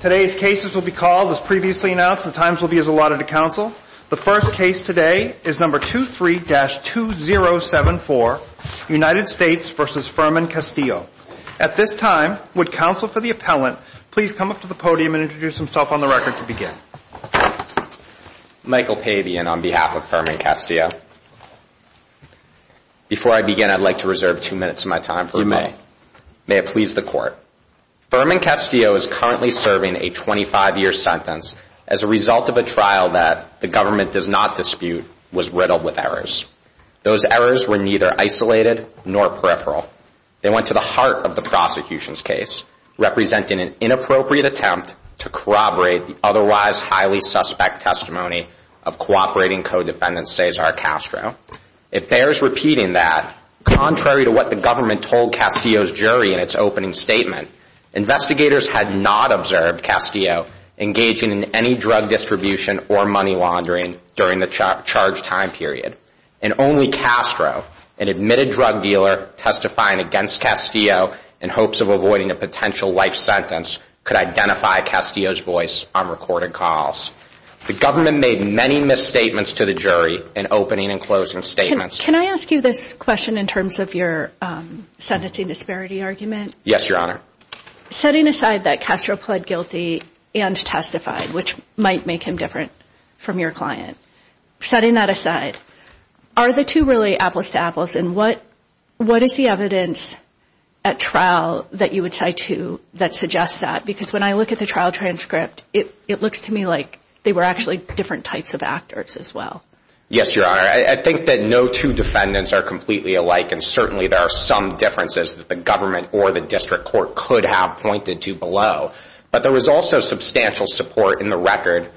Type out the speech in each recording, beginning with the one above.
Today's cases will be called, as previously announced, the times will be as allotted to counsel. The first case today is No. 23-2074, United States v. Furman Castillo. At this time, would counsel for the appellant please come up to the podium and introduce himself on the record to begin. Michael Pavian on behalf of Furman Castillo. Before I begin, I'd like to reserve two minutes of my time for rebuttal. You may. May it please the Court. Furman Castillo is currently serving a 25-year sentence as a result of a trial that the government does not dispute was riddled with errors. Those errors were neither isolated nor peripheral. They went to the heart of the prosecution's case, representing an inappropriate attempt to corroborate the otherwise highly suspect testimony of cooperating co-defendant Cesar Castro. It bears repeating that, contrary to what the government told Castillo's jury in its opening statement, investigators had not observed Castillo engaging in any drug distribution or money laundering during the charged time period, and only Castro, an admitted drug dealer testifying against Castillo in hopes of avoiding a potential life sentence, could identify Castillo's voice on recorded calls. The government made many misstatements to the jury in opening and closing statements. Can I ask you this question in terms of your sentencing disparity argument? Yes, Your Honor. Setting aside that Castro pled guilty and testified, which might make him different from your client, setting that aside, are the two really apples to apples, and what is the evidence at trial that you would cite to that suggests that? Because when I look at the trial transcript, it looks to me like they were actually different types of actors as well. Yes, Your Honor. I think that no two defendants are completely alike, and certainly there are some differences that the government or the district court could have pointed to below. But there was also substantial support in the record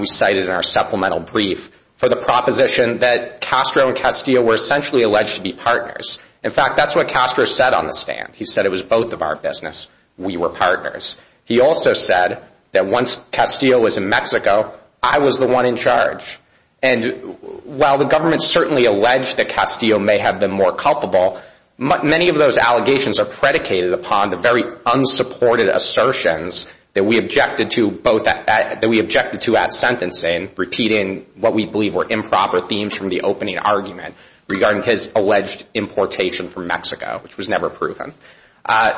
we cited in our supplemental brief for the proposition that Castro and Castillo were essentially alleged to be partners. In fact, that's what Castro said on the stand. He said it was both of our business. We were partners. He also said that once Castillo was in Mexico, I was the one in charge. And while the government certainly alleged that Castillo may have been more culpable, many of those allegations are predicated upon the very unsupported assertions that we objected to at sentencing, repeating what we believe were improper themes from the opening argument regarding his alleged importation from Mexico, which was never proven.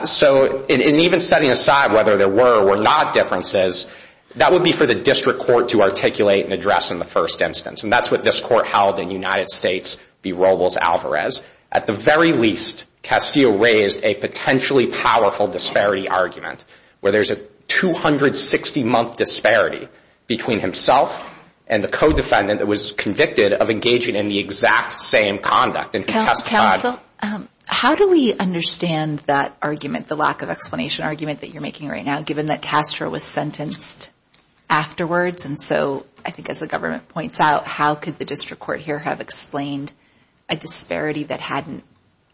So in even setting aside whether there were or were not differences, that would be for the district court to articulate and address in the first instance. And that's what this court held in United States v. Robles-Alvarez. At the very least, Castillo raised a potentially powerful disparity argument, where there's a 260-month disparity between himself and the co-defendant that was convicted of engaging in the exact same conduct in which he testified. Counsel, how do we understand that argument, the lack of explanation argument that you're making right now, given that Castro was sentenced afterwards? And so I think as the government points out, how could the district court here have explained a disparity that hadn't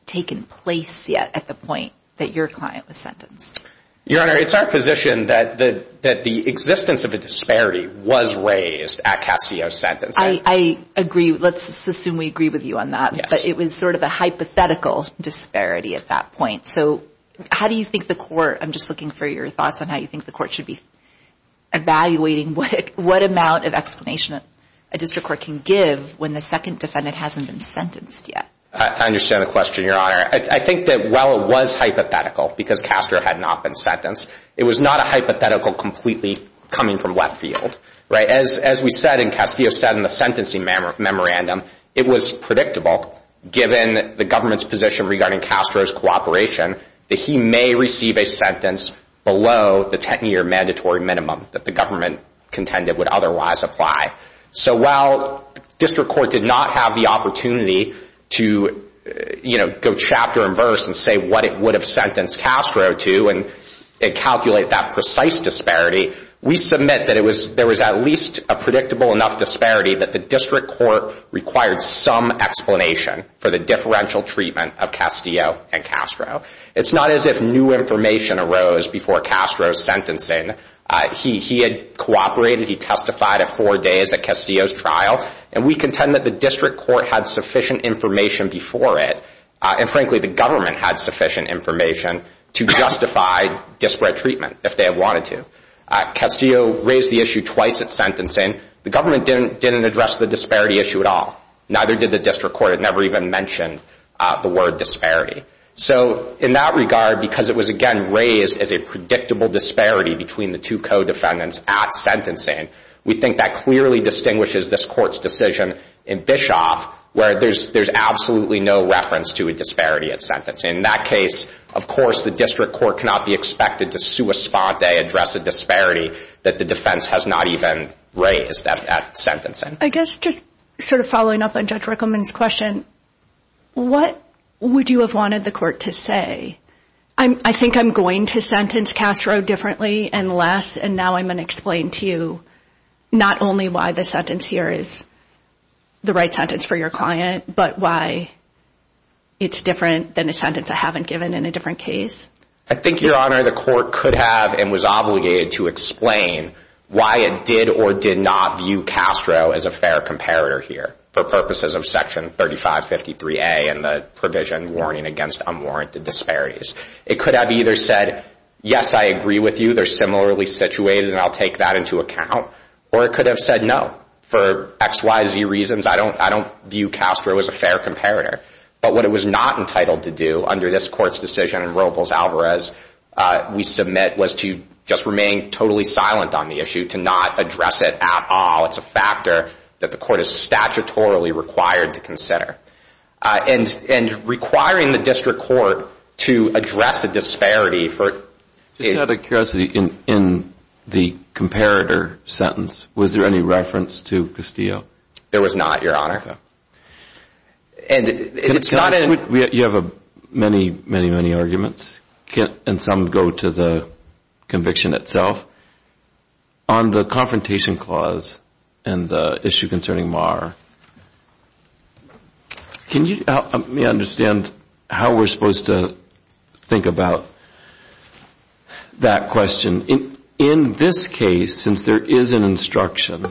taken place yet at the point that your client was sentenced? Your Honor, it's our position that the existence of a disparity was raised at Castillo's sentence. I agree. Let's assume we agree with you on that. But it was sort of a hypothetical disparity at that point. So how do you think the court – I'm just looking for your thoughts on how you think the court should be evaluating what amount of explanation a district court can give when the second defendant hasn't been sentenced yet? I understand the question, Your Honor. I think that while it was hypothetical because Castro had not been sentenced, it was not a hypothetical completely coming from left field. As we said and Castillo said in the sentencing memorandum, it was predictable given the government's position regarding Castro's cooperation that he may receive a sentence below the 10-year mandatory minimum that the government contended would otherwise apply. So while district court did not have the opportunity to, you know, go chapter and verse and say what it would have sentenced Castro to and calculate that precise disparity, we submit that there was at least a predictable enough disparity that the district court required some explanation for the differential treatment of Castillo and Castro. It's not as if new information arose before Castro's sentencing. He had cooperated. He testified at four days at Castillo's trial. And we contend that the district court had sufficient information before it. And frankly, the government had sufficient information to justify disparate treatment if they had wanted to. Castillo raised the issue twice at sentencing. The government didn't address the disparity issue at all. Neither did the district court. It never even mentioned the word disparity. So in that regard, because it was, again, raised as a predictable disparity between the two co-defendants at sentencing, we think that clearly distinguishes this court's decision in Bischoff where there's absolutely no reference to a disparity at sentencing. In that case, of course, the district court cannot be expected to sua sponte, address a disparity that the defense has not even raised at sentencing. I guess just sort of following up on Judge Rickleman's question, what would you have wanted the court to say? I think I'm going to sentence Castro differently and less, and now I'm going to explain to you not only why the sentence here is the right sentence for your client, but why it's different than a sentence I haven't given in a different case. I think, Your Honor, the court could have and was obligated to explain why it did or did not view Castro as a fair comparator here for purposes of Section 3553A and the provision warning against unwarranted disparities. It could have either said, yes, I agree with you. They're similarly situated, and I'll take that into account. Or it could have said, no, for X, Y, Z reasons, I don't view Castro as a fair comparator. But what it was not entitled to do under this court's decision in Robles-Alvarez we submit was to just remain totally silent on the issue, to not address it at all. It's a factor that the court is statutorily required to consider. And requiring the district court to address a disparity for – Just out of curiosity, in the comparator sentence, was there any reference to Castillo? There was not, Your Honor. And it's not in – You have many, many, many arguments, and some go to the conviction itself. On the confrontation clause and the issue concerning Marr, can you help me understand how we're supposed to think about that question? In this case, since there is an instruction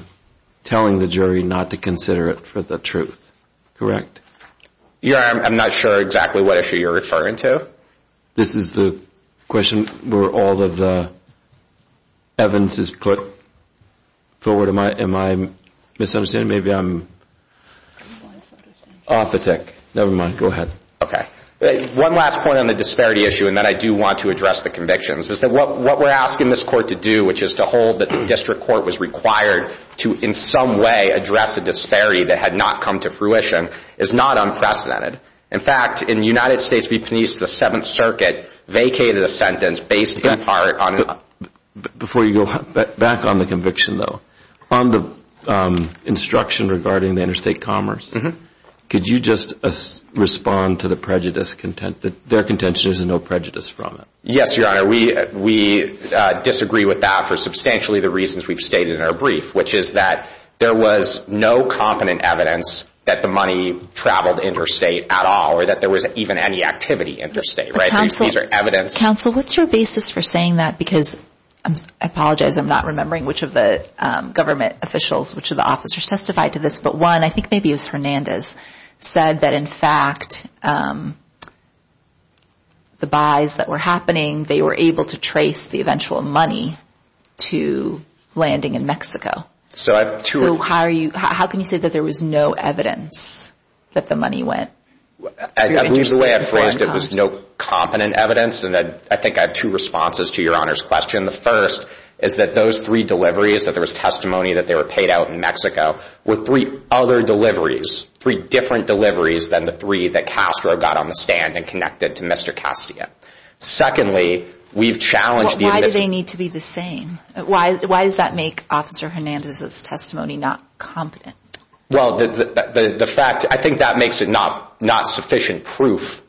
telling the jury not to consider it for the truth, correct? Your Honor, I'm not sure exactly what issue you're referring to. This is the question where all of the evidence is put forward. Am I misunderstanding? Maybe I'm off the tick. Never mind. Go ahead. Okay. One last point on the disparity issue, and then I do want to address the convictions, is that what we're asking this court to do, which is to hold that the district court was required to in some way address a disparity that had not come to fruition, is not unprecedented. In fact, in the United States v. Penise, the Seventh Circuit vacated a sentence based in part on – Before you go back on the conviction, though, on the instruction regarding the interstate commerce, could you just respond to their contention there's no prejudice from it? Yes, Your Honor. We disagree with that for substantially the reasons we've stated in our brief, which is that there was no competent evidence that the money traveled interstate at all or that there was even any activity interstate. These are evidence – Counsel, what's your basis for saying that? Because I apologize, I'm not remembering which of the government officials, which of the officers testified to this, but one, I think maybe it was Hernandez, said that in fact the buys that were happening, they were able to trace the eventual money to landing in Mexico. So I – So how are you – how can you say that there was no evidence that the money went? I believe the way I phrased it was no competent evidence, and I think I have two responses to Your Honor's question. The first is that those three deliveries, that there was testimony that they were paid out in Mexico, were three other deliveries, three different deliveries than the three that Castro got on the stand and connected to Mr. Castillo. Secondly, we've challenged the – Why do they need to be the same? Why does that make Officer Hernandez's testimony not competent? Well, the fact – I think that makes it not sufficient proof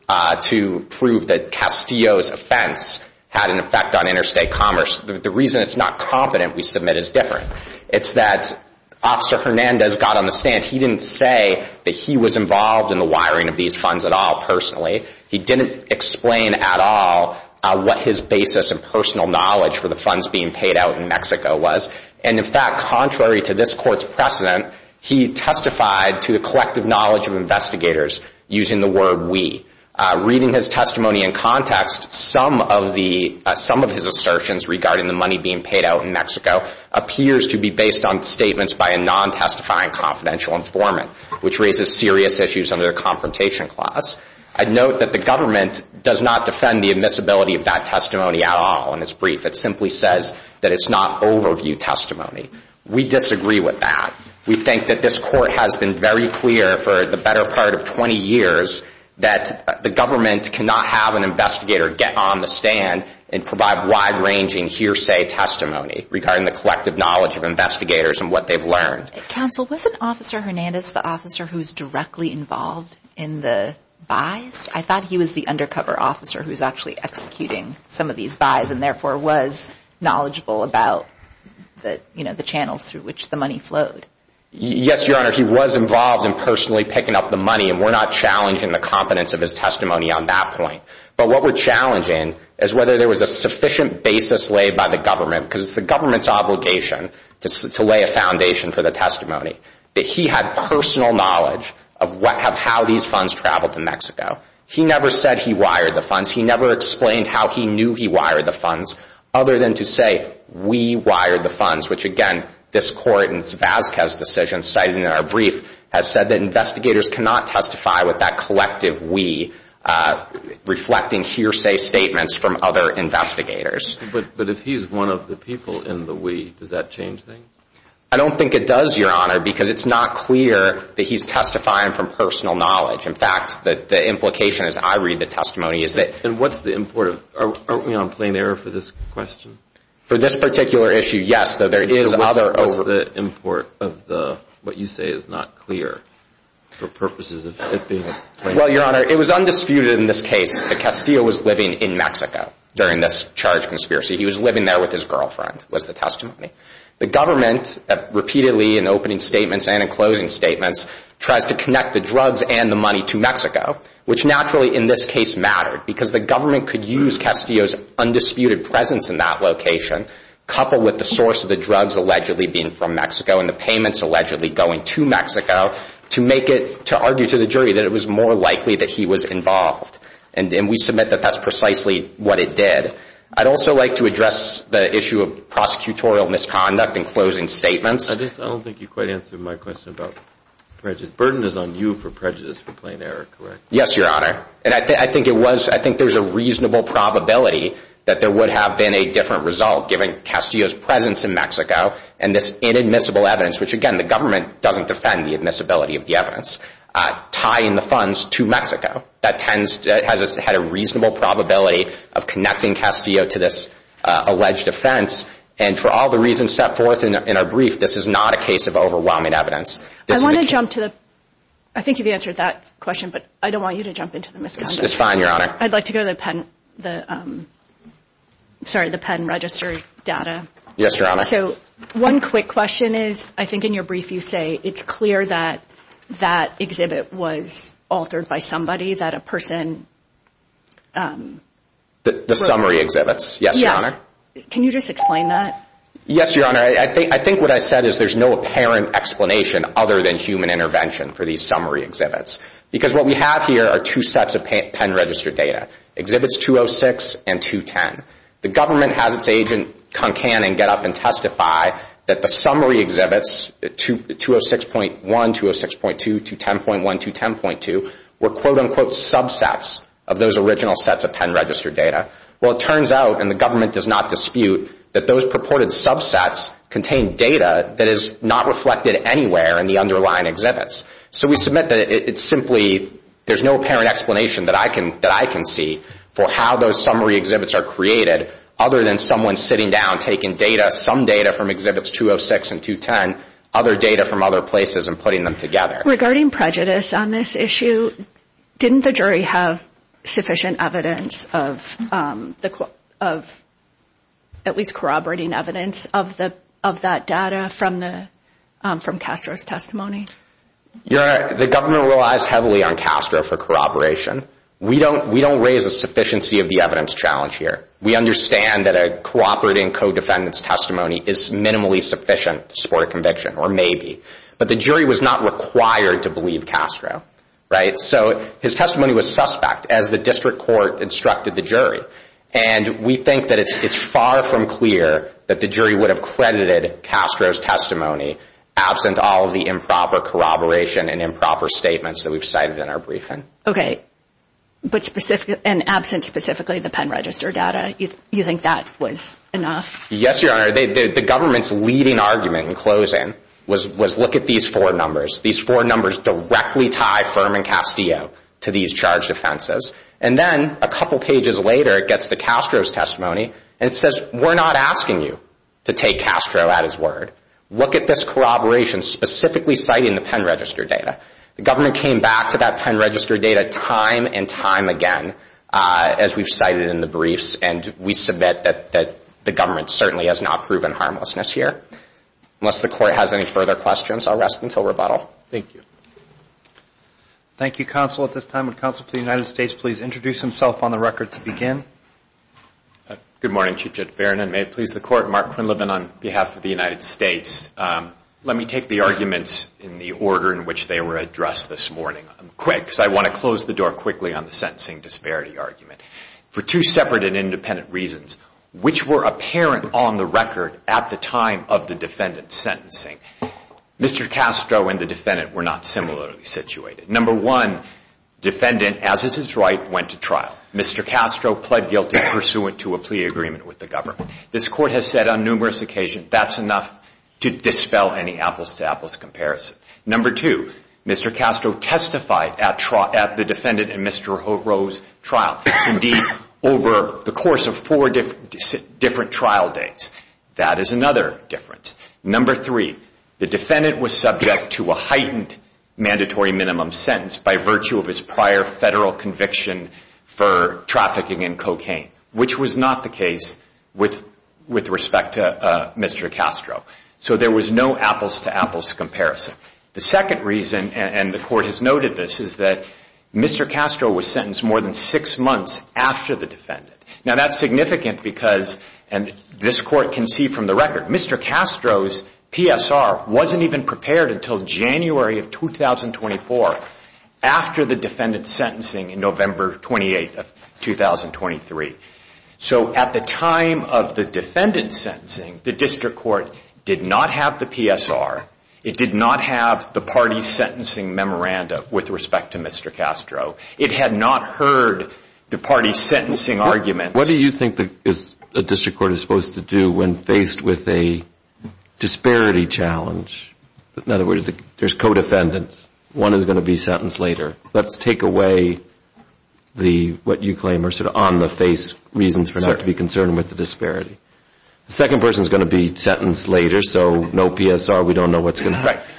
to prove that Castillo's offense had an effect on interstate commerce. The reason it's not competent we submit is different. It's that Officer Hernandez got on the stand. He didn't say that he was involved in the wiring of these funds at all personally. He didn't explain at all what his basis and personal knowledge for the funds being paid out in Mexico was. And, in fact, contrary to this Court's precedent, he testified to the collective knowledge of investigators using the word we. Reading his testimony in context, some of the – some of his assertions regarding the money being paid out in Mexico appears to be based on statements by a non-testifying confidential informant, which raises serious issues under the confrontation clause. I'd note that the government does not defend the admissibility of that testimony at all in its brief. It simply says that it's not overview testimony. We disagree with that. We think that this Court has been very clear for the better part of 20 years that the government cannot have an investigator get on the stand and provide wide-ranging hearsay testimony regarding the collective knowledge of investigators and what they've learned. Counsel, wasn't Officer Hernandez the officer who was directly involved in the buys? I thought he was the undercover officer who was actually executing some of these buys and, therefore, was knowledgeable about the channels through which the money flowed. Yes, Your Honor, he was involved in personally picking up the money, and we're not challenging the competence of his testimony on that point. But what we're challenging is whether there was a sufficient basis laid by the government, because it's the government's obligation to lay a foundation for the testimony, that he had personal knowledge of how these funds traveled to Mexico. He never said he wired the funds. He never explained how he knew he wired the funds other than to say we wired the funds, which, again, this Court in its Vasquez decision cited in our brief has said that investigators cannot testify with that collective we reflecting hearsay statements from other investigators. But if he's one of the people in the we, does that change things? I don't think it does, Your Honor, because it's not clear that he's testifying from personal knowledge. In fact, the implication as I read the testimony is that— And what's the import of—aren't we on plain error for this question? For this particular issue, yes, though there is other— What's the import of what you say is not clear for purposes of it being a plain error? Well, Your Honor, it was undisputed in this case that Castillo was living in Mexico during this charge conspiracy. He was living there with his girlfriend was the testimony. The government repeatedly in opening statements and in closing statements tries to connect the drugs and the money to Mexico, which naturally in this case mattered because the government could use Castillo's undisputed presence in that location coupled with the source of the drugs allegedly being from Mexico and the payments allegedly going to Mexico to make it— to argue to the jury that it was more likely that he was involved. And we submit that that's precisely what it did. I'd also like to address the issue of prosecutorial misconduct in closing statements. I don't think you quite answered my question about prejudice. Burden is on you for prejudice for plain error, correct? Yes, Your Honor. And I think it was—I think there's a reasonable probability that there would have been a different result given Castillo's presence in Mexico and this inadmissible evidence, which again the government doesn't defend the admissibility of the evidence, tying the funds to Mexico. That tends—has had a reasonable probability of connecting Castillo to this alleged offense. And for all the reasons set forth in our brief, this is not a case of overwhelming evidence. I want to jump to the—I think you've answered that question, but I don't want you to jump into the misconduct. It's fine, Your Honor. I'd like to go to the pen—the—sorry, the pen register data. Yes, Your Honor. So one quick question is I think in your brief you say it's clear that that exhibit was altered by somebody, that a person— The summary exhibits. Yes, Your Honor. Yes. Can you just explain that? Yes, Your Honor. I think what I said is there's no apparent explanation other than human intervention for these summary exhibits because what we have here are two sets of pen register data, Exhibits 206 and 210. The government has its agent come in and get up and testify that the summary exhibits, 206.1, 206.2, 210.1, 210.2, were quote-unquote subsets of those original sets of pen register data. Well, it turns out, and the government does not dispute, that those purported subsets contain data that is not reflected anywhere in the underlying exhibits. So we submit that it's simply— there's no apparent explanation that I can see for how those summary exhibits are created other than someone sitting down taking data, some data from Exhibits 206 and 210, other data from other places and putting them together. Regarding prejudice on this issue, didn't the jury have sufficient evidence of at least corroborating evidence of that data from Castro's testimony? Your Honor, the government relies heavily on Castro for corroboration. We don't raise a sufficiency of the evidence challenge here. We understand that a cooperating co-defendant's testimony is minimally sufficient to support a conviction, or maybe. But the jury was not required to believe Castro, right? So his testimony was suspect as the district court instructed the jury. And we think that it's far from clear that the jury would have credited Castro's testimony absent all of the improper corroboration and improper statements that we've cited in our briefing. Okay, but absent specifically the pen register data, you think that was enough? Yes, Your Honor. The government's leading argument in closing was, look at these four numbers. These four numbers directly tie Ferman Castillo to these charged offenses. And then a couple pages later, it gets to Castro's testimony, and it says, we're not asking you to take Castro at his word. Look at this corroboration specifically citing the pen register data. The government came back to that pen register data time and time again, as we've cited in the briefs, and we submit that the government certainly has not proven harmlessness here. Unless the Court has any further questions, I'll rest until rebuttal. Thank you. Thank you, Counsel. At this time, would Counsel to the United States please introduce himself on the record to begin? Good morning, Chief Judge Farinan. May it please the Court, Mark Quinlivan on behalf of the United States. Let me take the arguments in the order in which they were addressed this morning. I'm quick because I want to close the door quickly on the sentencing disparity argument. For two separate and independent reasons, which were apparent on the record at the time of the defendant's sentencing, Mr. Castro and the defendant were not similarly situated. Number one, defendant, as is his right, went to trial. Mr. Castro pled guilty pursuant to a plea agreement with the government. This Court has said on numerous occasions, that's enough to dispel any apples-to-apples comparison. Number two, Mr. Castro testified at the defendant and Mr. O'Rourke's trial. Indeed, over the course of four different trial dates. That is another difference. Number three, the defendant was subject to a heightened mandatory minimum sentence by virtue of his prior federal conviction for trafficking in cocaine, which was not the case with respect to Mr. Castro. So there was no apples-to-apples comparison. The second reason, and the Court has noted this, is that Mr. Castro was sentenced more than six months after the defendant. Now that's significant because, and this Court can see from the record, Mr. Castro's PSR wasn't even prepared until January of 2024, after the defendant's sentencing in November 28th of 2023. So at the time of the defendant's sentencing, the District Court did not have the PSR. It did not have the party's sentencing memorandum with respect to Mr. Castro. It had not heard the party's sentencing arguments. What do you think a District Court is supposed to do when faced with a disparity challenge? In other words, there's co-defendants. One is going to be sentenced later. Let's take away what you claim are sort of on-the-face reasons for not to be concerned with the disparity. The second person is going to be sentenced later, so no PSR. We don't know what's going to happen.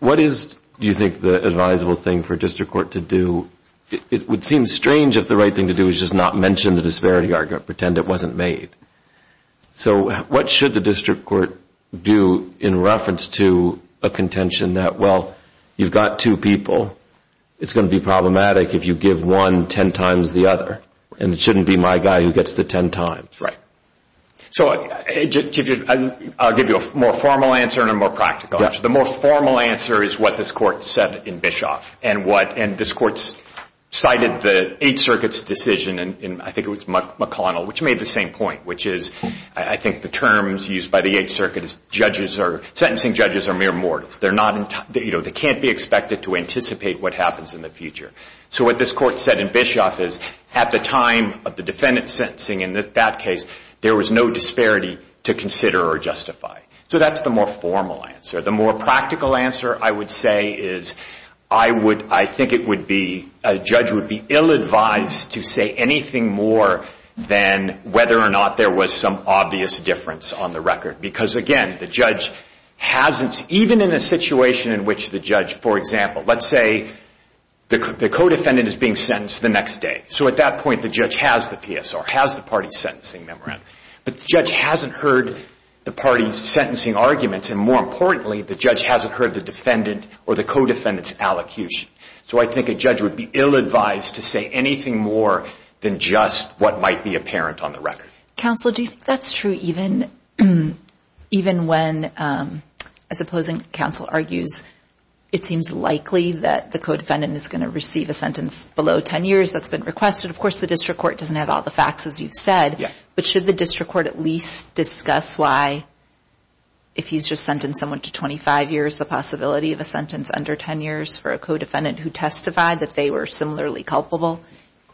What is, do you think, the advisable thing for a District Court to do? It would seem strange if the right thing to do is just not mention the disparity argument, pretend it wasn't made. So what should the District Court do in reference to a contention that, well, you've got two people. It's going to be problematic if you give one ten times the other, and it shouldn't be my guy who gets the ten times. I'll give you a more formal answer and a more practical answer. The most formal answer is what this Court said in Bischoff, and this Court cited the Eighth Circuit's decision, and I think it was McConnell, which made the same point, which is I think the terms used by the Eighth Circuit is sentencing judges are mere mortals. They can't be expected to anticipate what happens in the future. So what this Court said in Bischoff is at the time of the defendant's sentencing, in that case, there was no disparity to consider or justify. So that's the more formal answer. The more practical answer, I would say, is I think it would be, a judge would be ill-advised to say anything more than whether or not there was some obvious difference on the record, because again, the judge hasn't, even in a situation in which the judge, for example, let's say the co-defendant is being sentenced the next day. So at that point, the judge has the PSR, has the party's sentencing memorandum, but the judge hasn't heard the party's sentencing arguments, and more importantly, the judge hasn't heard the defendant or the co-defendant's allocution. So I think a judge would be ill-advised to say anything more than just what might be apparent on the record. Counsel, do you think that's true even when, as opposing counsel argues, it seems likely that the co-defendant is going to receive a sentence below 10 years that's been requested? Of course, the district court doesn't have all the facts, as you've said, but should the district court at least discuss why, if he's just sentenced someone to 25 years, the possibility of a sentence under 10 years for a co-defendant who testified that they were similarly culpable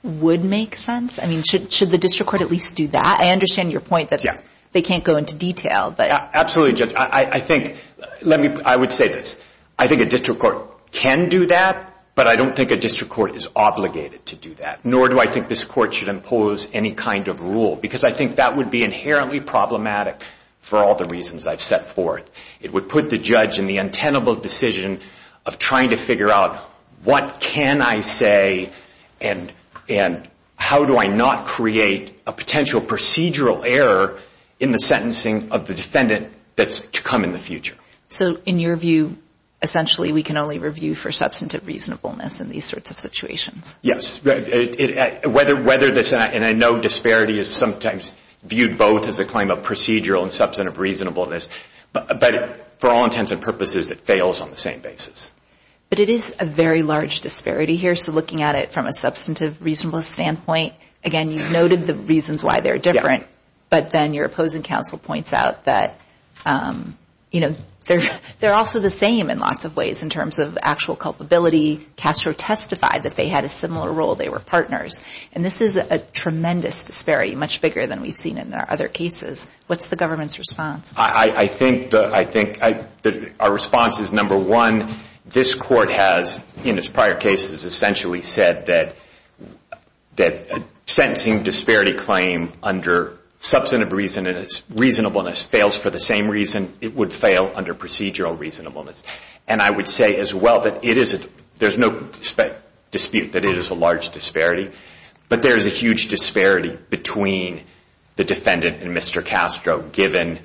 would make sense? I mean, should the district court at least do that? I understand your point that they can't go into detail. Absolutely, Judge. I would say this. I think a district court can do that, but I don't think a district court is obligated to do that, nor do I think this court should impose any kind of rule, because I think that would be inherently problematic for all the reasons I've set forth. It would put the judge in the untenable decision of trying to figure out what can I say and how do I not create a potential procedural error in the sentencing of the defendant that's to come in the future. So, in your view, essentially, we can only review for substantive reasonableness in these sorts of situations? Yes. Whether this, and I know disparity is sometimes viewed both as a claim of procedural and substantive reasonableness, but for all intents and purposes, it fails on the same basis. But it is a very large disparity here, so looking at it from a substantive reasonableness standpoint, again, you've noted the reasons why they're different, but then your opposing counsel points out that, you know, they're also the same in lots of ways in terms of actual culpability. Castro testified that they had a similar role. They were partners. And this is a tremendous disparity, much bigger than we've seen in our other cases. What's the government's response? I think that our response is, number one, this Court has, in its prior cases, essentially said that a sentencing disparity claim under substantive reasonableness fails for the same reason it would fail under procedural reasonableness. And I would say as well that there's no dispute that it is a large disparity, but there is a huge disparity between the defendant and Mr. Castro given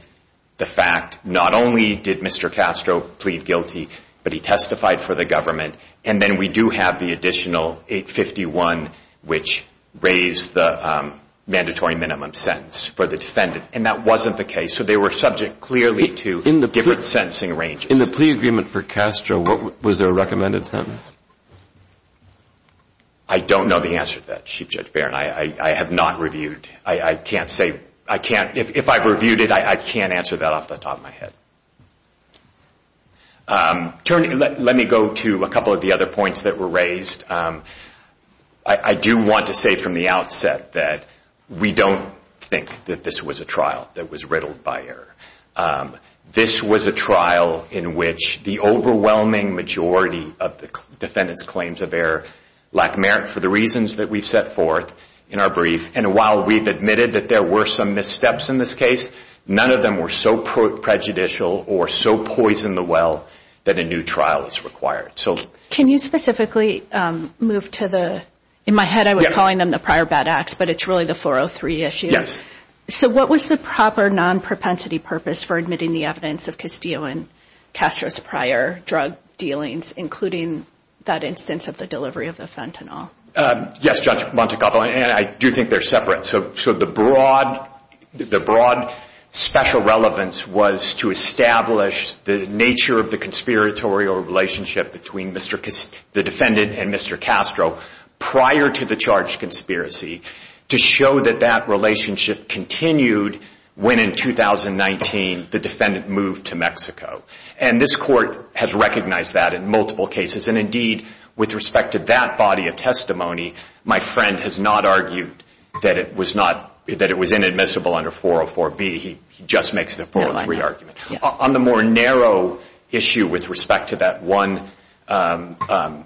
the fact not only did Mr. Castro plead guilty, but he testified for the government, and then we do have the additional 851, which raised the mandatory minimum sentence for the defendant, and that wasn't the case. So they were subject clearly to different sentencing ranges. In the plea agreement for Castro, was there a recommended sentence? I don't know the answer to that, Chief Judge Barron. I have not reviewed. I can't say. If I've reviewed it, I can't answer that off the top of my head. Let me go to a couple of the other points that were raised. I do want to say from the outset that we don't think that this was a trial that was riddled by error. This was a trial in which the overwhelming majority of the defendant's claims of error lack merit for the reasons that we've set forth in our brief, and while we've admitted that there were some missteps in this case, none of them were so prejudicial or so poison the well that a new trial is required. Can you specifically move to the – in my head I was calling them the prior bad acts, but it's really the 403 issue. Yes. So what was the proper non-propensity purpose for admitting the evidence of Castillo and Castro's prior drug dealings, including that instance of the delivery of the fentanyl? Yes, Judge Montecalvo, and I do think they're separate. So the broad special relevance was to establish the nature of the conspiratorial relationship between the defendant and Mr. Castro prior to the charged conspiracy to show that that relationship continued when in 2019 the defendant moved to Mexico. And this court has recognized that in multiple cases, and indeed with respect to that body of testimony, my friend has not argued that it was inadmissible under 404B. He just makes the 403 argument. On the more narrow issue with respect to that one fentanyl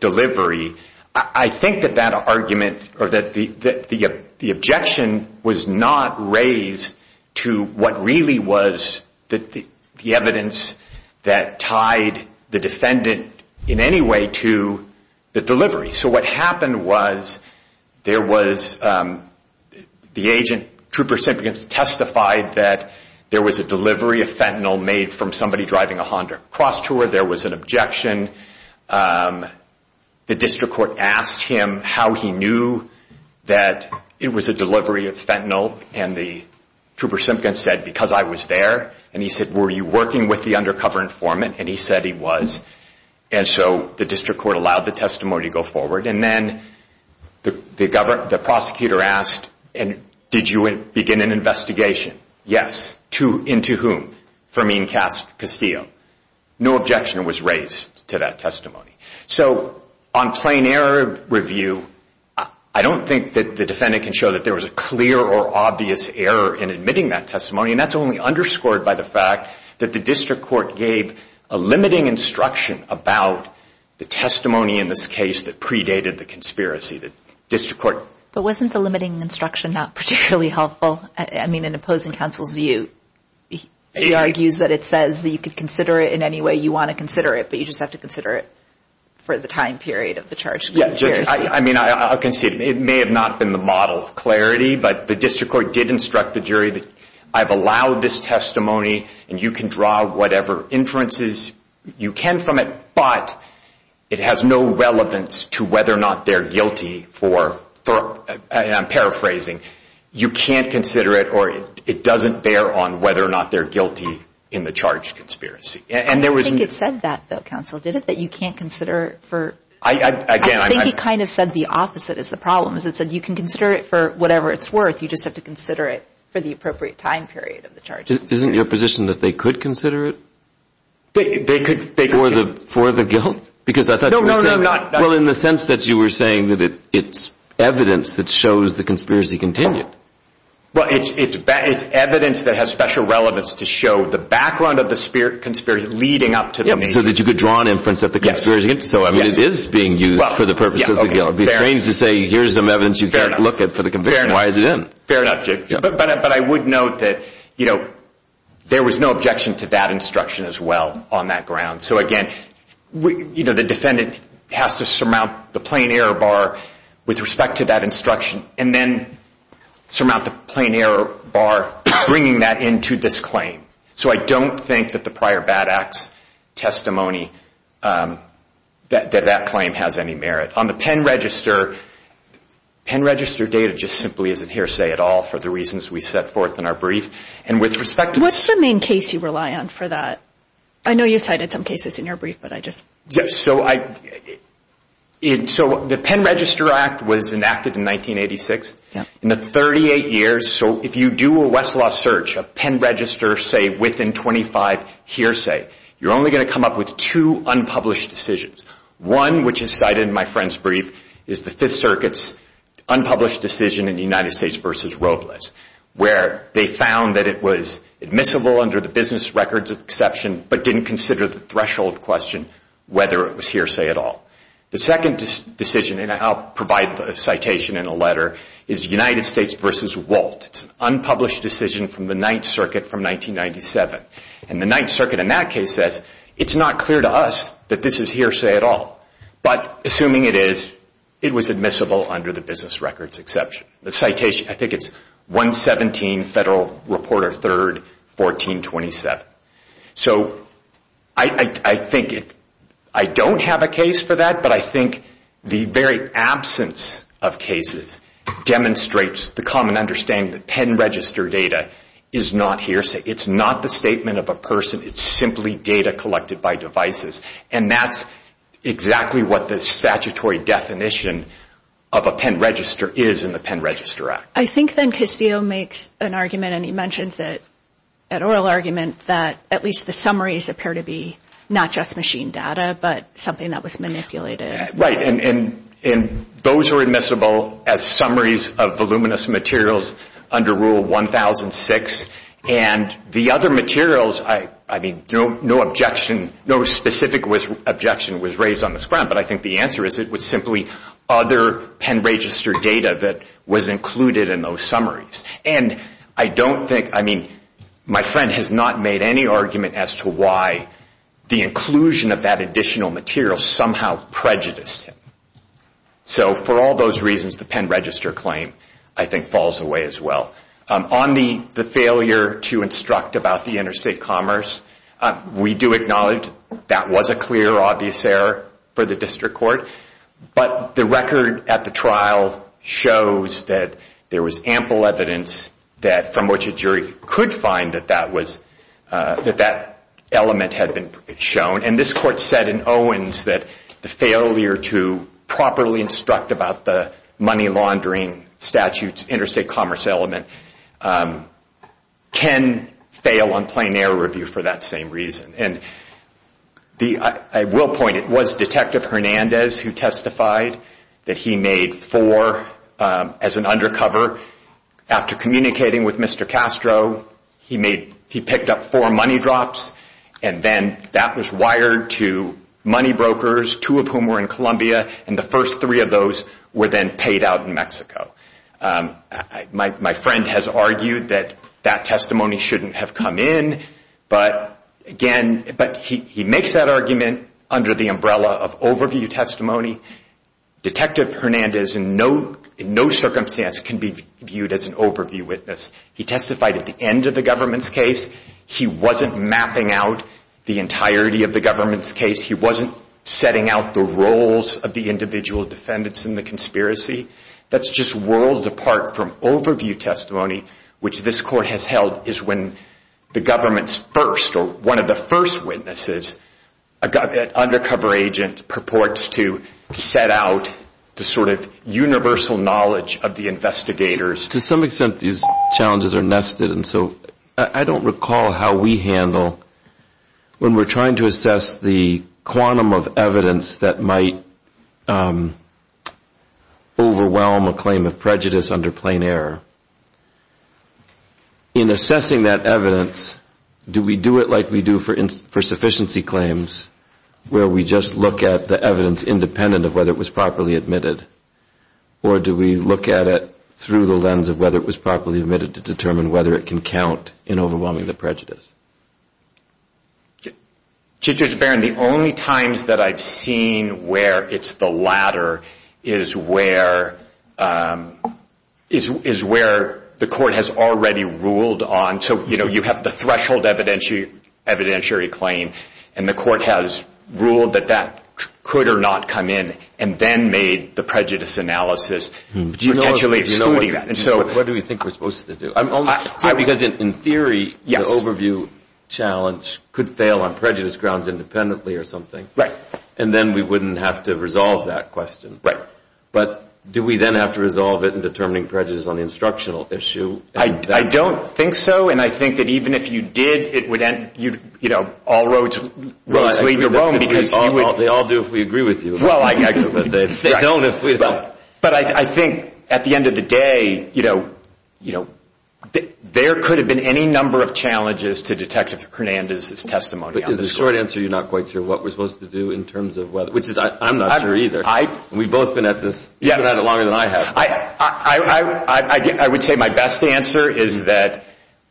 delivery, I think that that argument or that the objection was not raised to what really was the evidence that tied the defendant in any way to the delivery. So what happened was there was the agent, Trooper Simkins, testified that there was a delivery of fentanyl made from somebody driving a Honda Crosstour. There was an objection. The district court asked him how he knew that it was a delivery of fentanyl, and the Trooper Simkins said, because I was there. And he said, were you working with the undercover informant? And he said he was. And so the district court allowed the testimony to go forward. And then the prosecutor asked, did you begin an investigation? Yes. Into whom? Fermin Castillo. No objection was raised to that testimony. So on plain error review, I don't think that the defendant can show that there was a clear or obvious error in admitting that testimony, and that's only underscored by the fact that the district court gave a limiting instruction about the testimony in this case that predated the conspiracy. The district court. But wasn't the limiting instruction not particularly helpful? I mean, in opposing counsel's view, he argues that it says that you could consider it in any way you want to consider it, but you just have to consider it for the time period of the charge. Yes. I mean, I'll concede. It may have not been the model of clarity, but the district court did instruct the jury that I've allowed this testimony and you can draw whatever inferences you can from it, but it has no relevance to whether or not they're guilty for, and I'm paraphrasing, you can't consider it or it doesn't bear on whether or not they're guilty in the charged conspiracy. I don't think it said that, though, counsel, did it? That you can't consider it for. I think he kind of said the opposite is the problem. It said you can consider it for whatever it's worth, you just have to consider it for the appropriate time period of the charge. Isn't your position that they could consider it? They could. For the guilt? No, no, no, not. Well, in the sense that you were saying that it's evidence that shows the conspiracy continued. Well, it's evidence that has special relevance to show the background of the conspiracy leading up to the main thing. So that you could draw an inference that the conspiracy continued. So, I mean, it is being used for the purpose of the guilt. It would be strange to say here's some evidence you can't look at for the conviction. Why is it in? Fair enough, but I would note that, you know, there was no objection to that instruction as well on that ground. So, again, you know, the defendant has to surmount the plain error bar with respect to that instruction and then surmount the plain error bar bringing that into this claim. So I don't think that the prior BAD Act's testimony that that claim has any merit. On the Penn Register, Penn Register data just simply isn't hearsay at all for the reasons we set forth in our brief. And with respect to this- What's the main case you rely on for that? I know you cited some cases in your brief, but I just- So the Penn Register Act was enacted in 1986. In the 38 years, so if you do a Westlaw search of Penn Register say within 25 hearsay, you're only going to come up with two unpublished decisions. One, which is cited in my friend's brief, is the Fifth Circuit's unpublished decision in the United States v. Robles where they found that it was admissible under the business records exception, but didn't consider the threshold question whether it was hearsay at all. The second decision, and I'll provide the citation in a letter, is United States v. Walt. It's an unpublished decision from the Ninth Circuit from 1997. And the Ninth Circuit in that case says it's not clear to us that this is hearsay at all, but assuming it is, it was admissible under the business records exception. The citation, I think it's 117 Federal Reporter 3rd, 1427. So I think I don't have a case for that, but I think the very absence of cases demonstrates the common understanding that Penn Register data is not hearsay. It's not the statement of a person. It's simply data collected by devices. And that's exactly what the statutory definition of a Penn Register is in the Penn Register Act. I think then Casillo makes an argument, and he mentions it at oral argument, that at least the summaries appear to be not just machine data, but something that was manipulated. Right. And those are admissible as summaries of voluminous materials under Rule 1006. And the other materials, I mean, no objection, no specific objection was raised on this ground, but I think the answer is it was simply other Penn Register data that was included in those summaries. And I don't think, I mean, my friend has not made any argument as to why the inclusion of that additional material somehow prejudiced him. So for all those reasons, the Penn Register claim, I think, falls away as well. On the failure to instruct about the interstate commerce, we do acknowledge that was a clear, obvious error for the district court. But the record at the trial shows that there was ample evidence that, from which a jury could find that that element had been shown. And this court said in Owens that the failure to properly instruct about the money laundering statutes, the interstate commerce element, can fail on plain error review for that same reason. And I will point, it was Detective Hernandez who testified that he made four as an undercover. After communicating with Mr. Castro, he picked up four money drops, and then that was wired to money brokers, two of whom were in Colombia, and the first three of those were then paid out in Mexico. My friend has argued that that testimony shouldn't have come in, but again, he makes that argument under the umbrella of overview testimony. Detective Hernandez in no circumstance can be viewed as an overview witness. He testified at the end of the government's case. He wasn't mapping out the entirety of the government's case. He wasn't setting out the roles of the individual defendants in the conspiracy. That's just worlds apart from overview testimony, which this court has held is when the government's first or one of the first witnesses, an undercover agent purports to set out the sort of universal knowledge of the investigators. To some extent, these challenges are nested, and so I don't recall how we handle when we're trying to assess the quantum of evidence that might overwhelm a claim of prejudice under plain error. In assessing that evidence, do we do it like we do for sufficiency claims, where we just look at the evidence independent of whether it was properly admitted, or do we look at it through the lens of whether it was properly admitted to determine whether it can count in overwhelming the prejudice? Judge Barron, the only times that I've seen where it's the latter is where the court has already ruled on. So you have the threshold evidentiary claim, and the court has ruled that that could or not come in and then made the prejudice analysis potentially excluding that. What do we think we're supposed to do? Because in theory, the overview challenge could fail on prejudice grounds independently or something, and then we wouldn't have to resolve that question. But do we then have to resolve it in determining prejudice on the instructional issue? I don't think so, and I think that even if you did, all roads lead to Rome. They all do if we agree with you, but they don't if we don't. But I think at the end of the day, there could have been any number of challenges to Detective Hernandez's testimony on this one. But in the short answer, you're not quite sure what we're supposed to do in terms of whether. I'm not sure either. We've both been at this. You've been at it longer than I have. I would say my best answer is that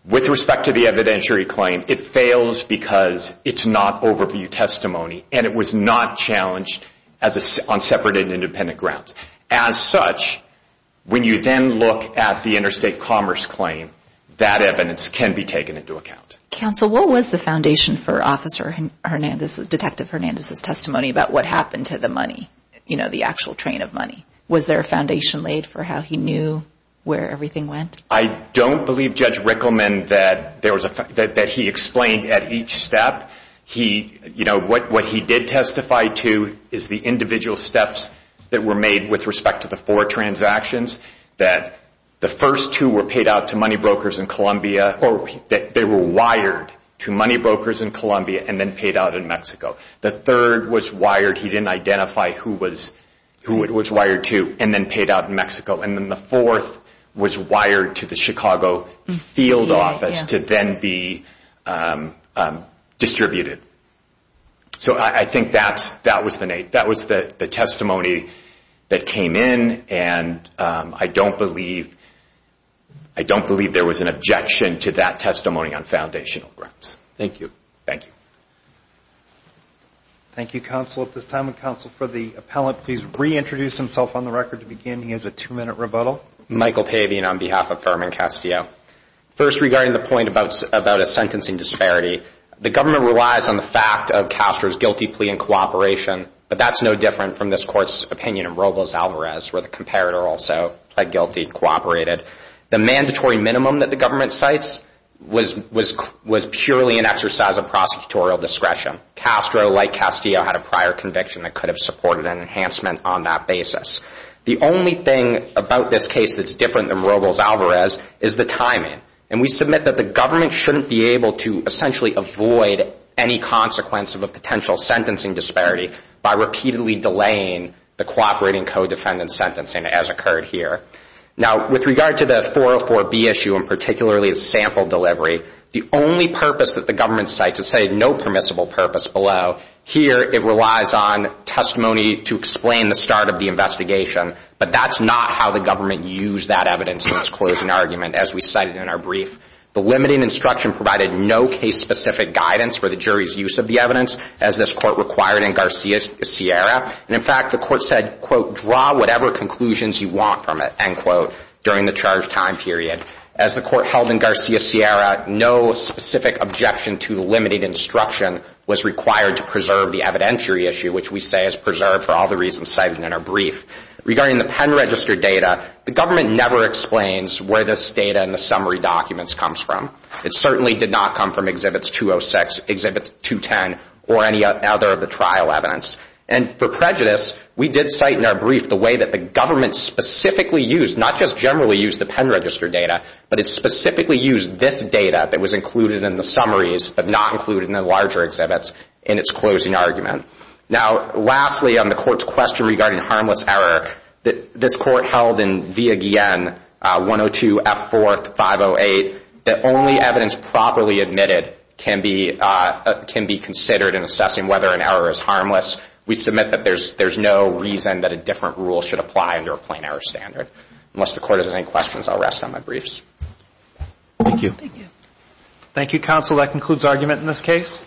with respect to the evidentiary claim, it fails because it's not overview testimony, and it was not challenged on separate and independent grounds. As such, when you then look at the interstate commerce claim, that evidence can be taken into account. Counsel, what was the foundation for Detective Hernandez's testimony about what happened to the money, the actual train of money? Was there a foundation laid for how he knew where everything went? I don't believe Judge Rickleman that he explained at each step. What he did testify to is the individual steps that were made with respect to the four transactions, that the first two were paid out to money brokers in Colombia, or that they were wired to money brokers in Colombia and then paid out in Mexico. The third was wired. He didn't identify who it was wired to and then paid out in Mexico. And then the fourth was wired to the Chicago field office to then be distributed. So I think that was the testimony that came in, and I don't believe there was an objection to that testimony on foundational grounds. Thank you. Thank you, counsel. At this time, counsel, for the appellant, please reintroduce himself on the record to begin. He has a two-minute rebuttal. Michael Pavian on behalf of Furman Castillo. First, regarding the point about a sentencing disparity, the government relies on the fact of Castro's guilty plea in cooperation, but that's no different from this Court's opinion in Robles-Alvarez, where the comparator also pled guilty, cooperated. The mandatory minimum that the government cites was purely an exercise of prosecutorial discretion. Castro, like Castillo, had a prior conviction that could have supported an enhancement on that basis. The only thing about this case that's different than Robles-Alvarez is the timing, and we submit that the government shouldn't be able to essentially avoid any consequence of a potential sentencing disparity by repeatedly delaying the cooperating co-defendant's sentencing, as occurred here. Now, with regard to the 404B issue, and particularly its sample delivery, the only purpose that the government cites is to say no permissible purpose below. Here, it relies on testimony to explain the start of the investigation, but that's not how the government used that evidence in its closing argument, as we cited in our brief. The limiting instruction provided no case-specific guidance for the jury's use of the evidence, as this Court required in Garcia-Sierra. And, in fact, the Court said, quote, draw whatever conclusions you want from it, end quote, during the charge time period. As the Court held in Garcia-Sierra, no specific objection to the limited instruction was required to preserve the evidentiary issue, which we say is preserved for all the reasons cited in our brief. Regarding the pen register data, the government never explains where this data in the summary documents comes from. It certainly did not come from Exhibits 206, Exhibits 210, or any other of the trial evidence. And for prejudice, we did cite in our brief the way that the government specifically used, not just generally used the pen register data, but it specifically used this data that was included in the summaries but not included in the larger exhibits in its closing argument. Now, lastly, on the Court's question regarding harmless error, this Court held in Villa Guillen, 102F4-508, that only evidence properly admitted can be considered in assessing whether an error is harmless. We submit that there's no reason that a different rule should apply under a plain error standard. Unless the Court has any questions, I'll rest on my briefs. Thank you. Thank you. Thank you, counsel. That concludes argument in this case.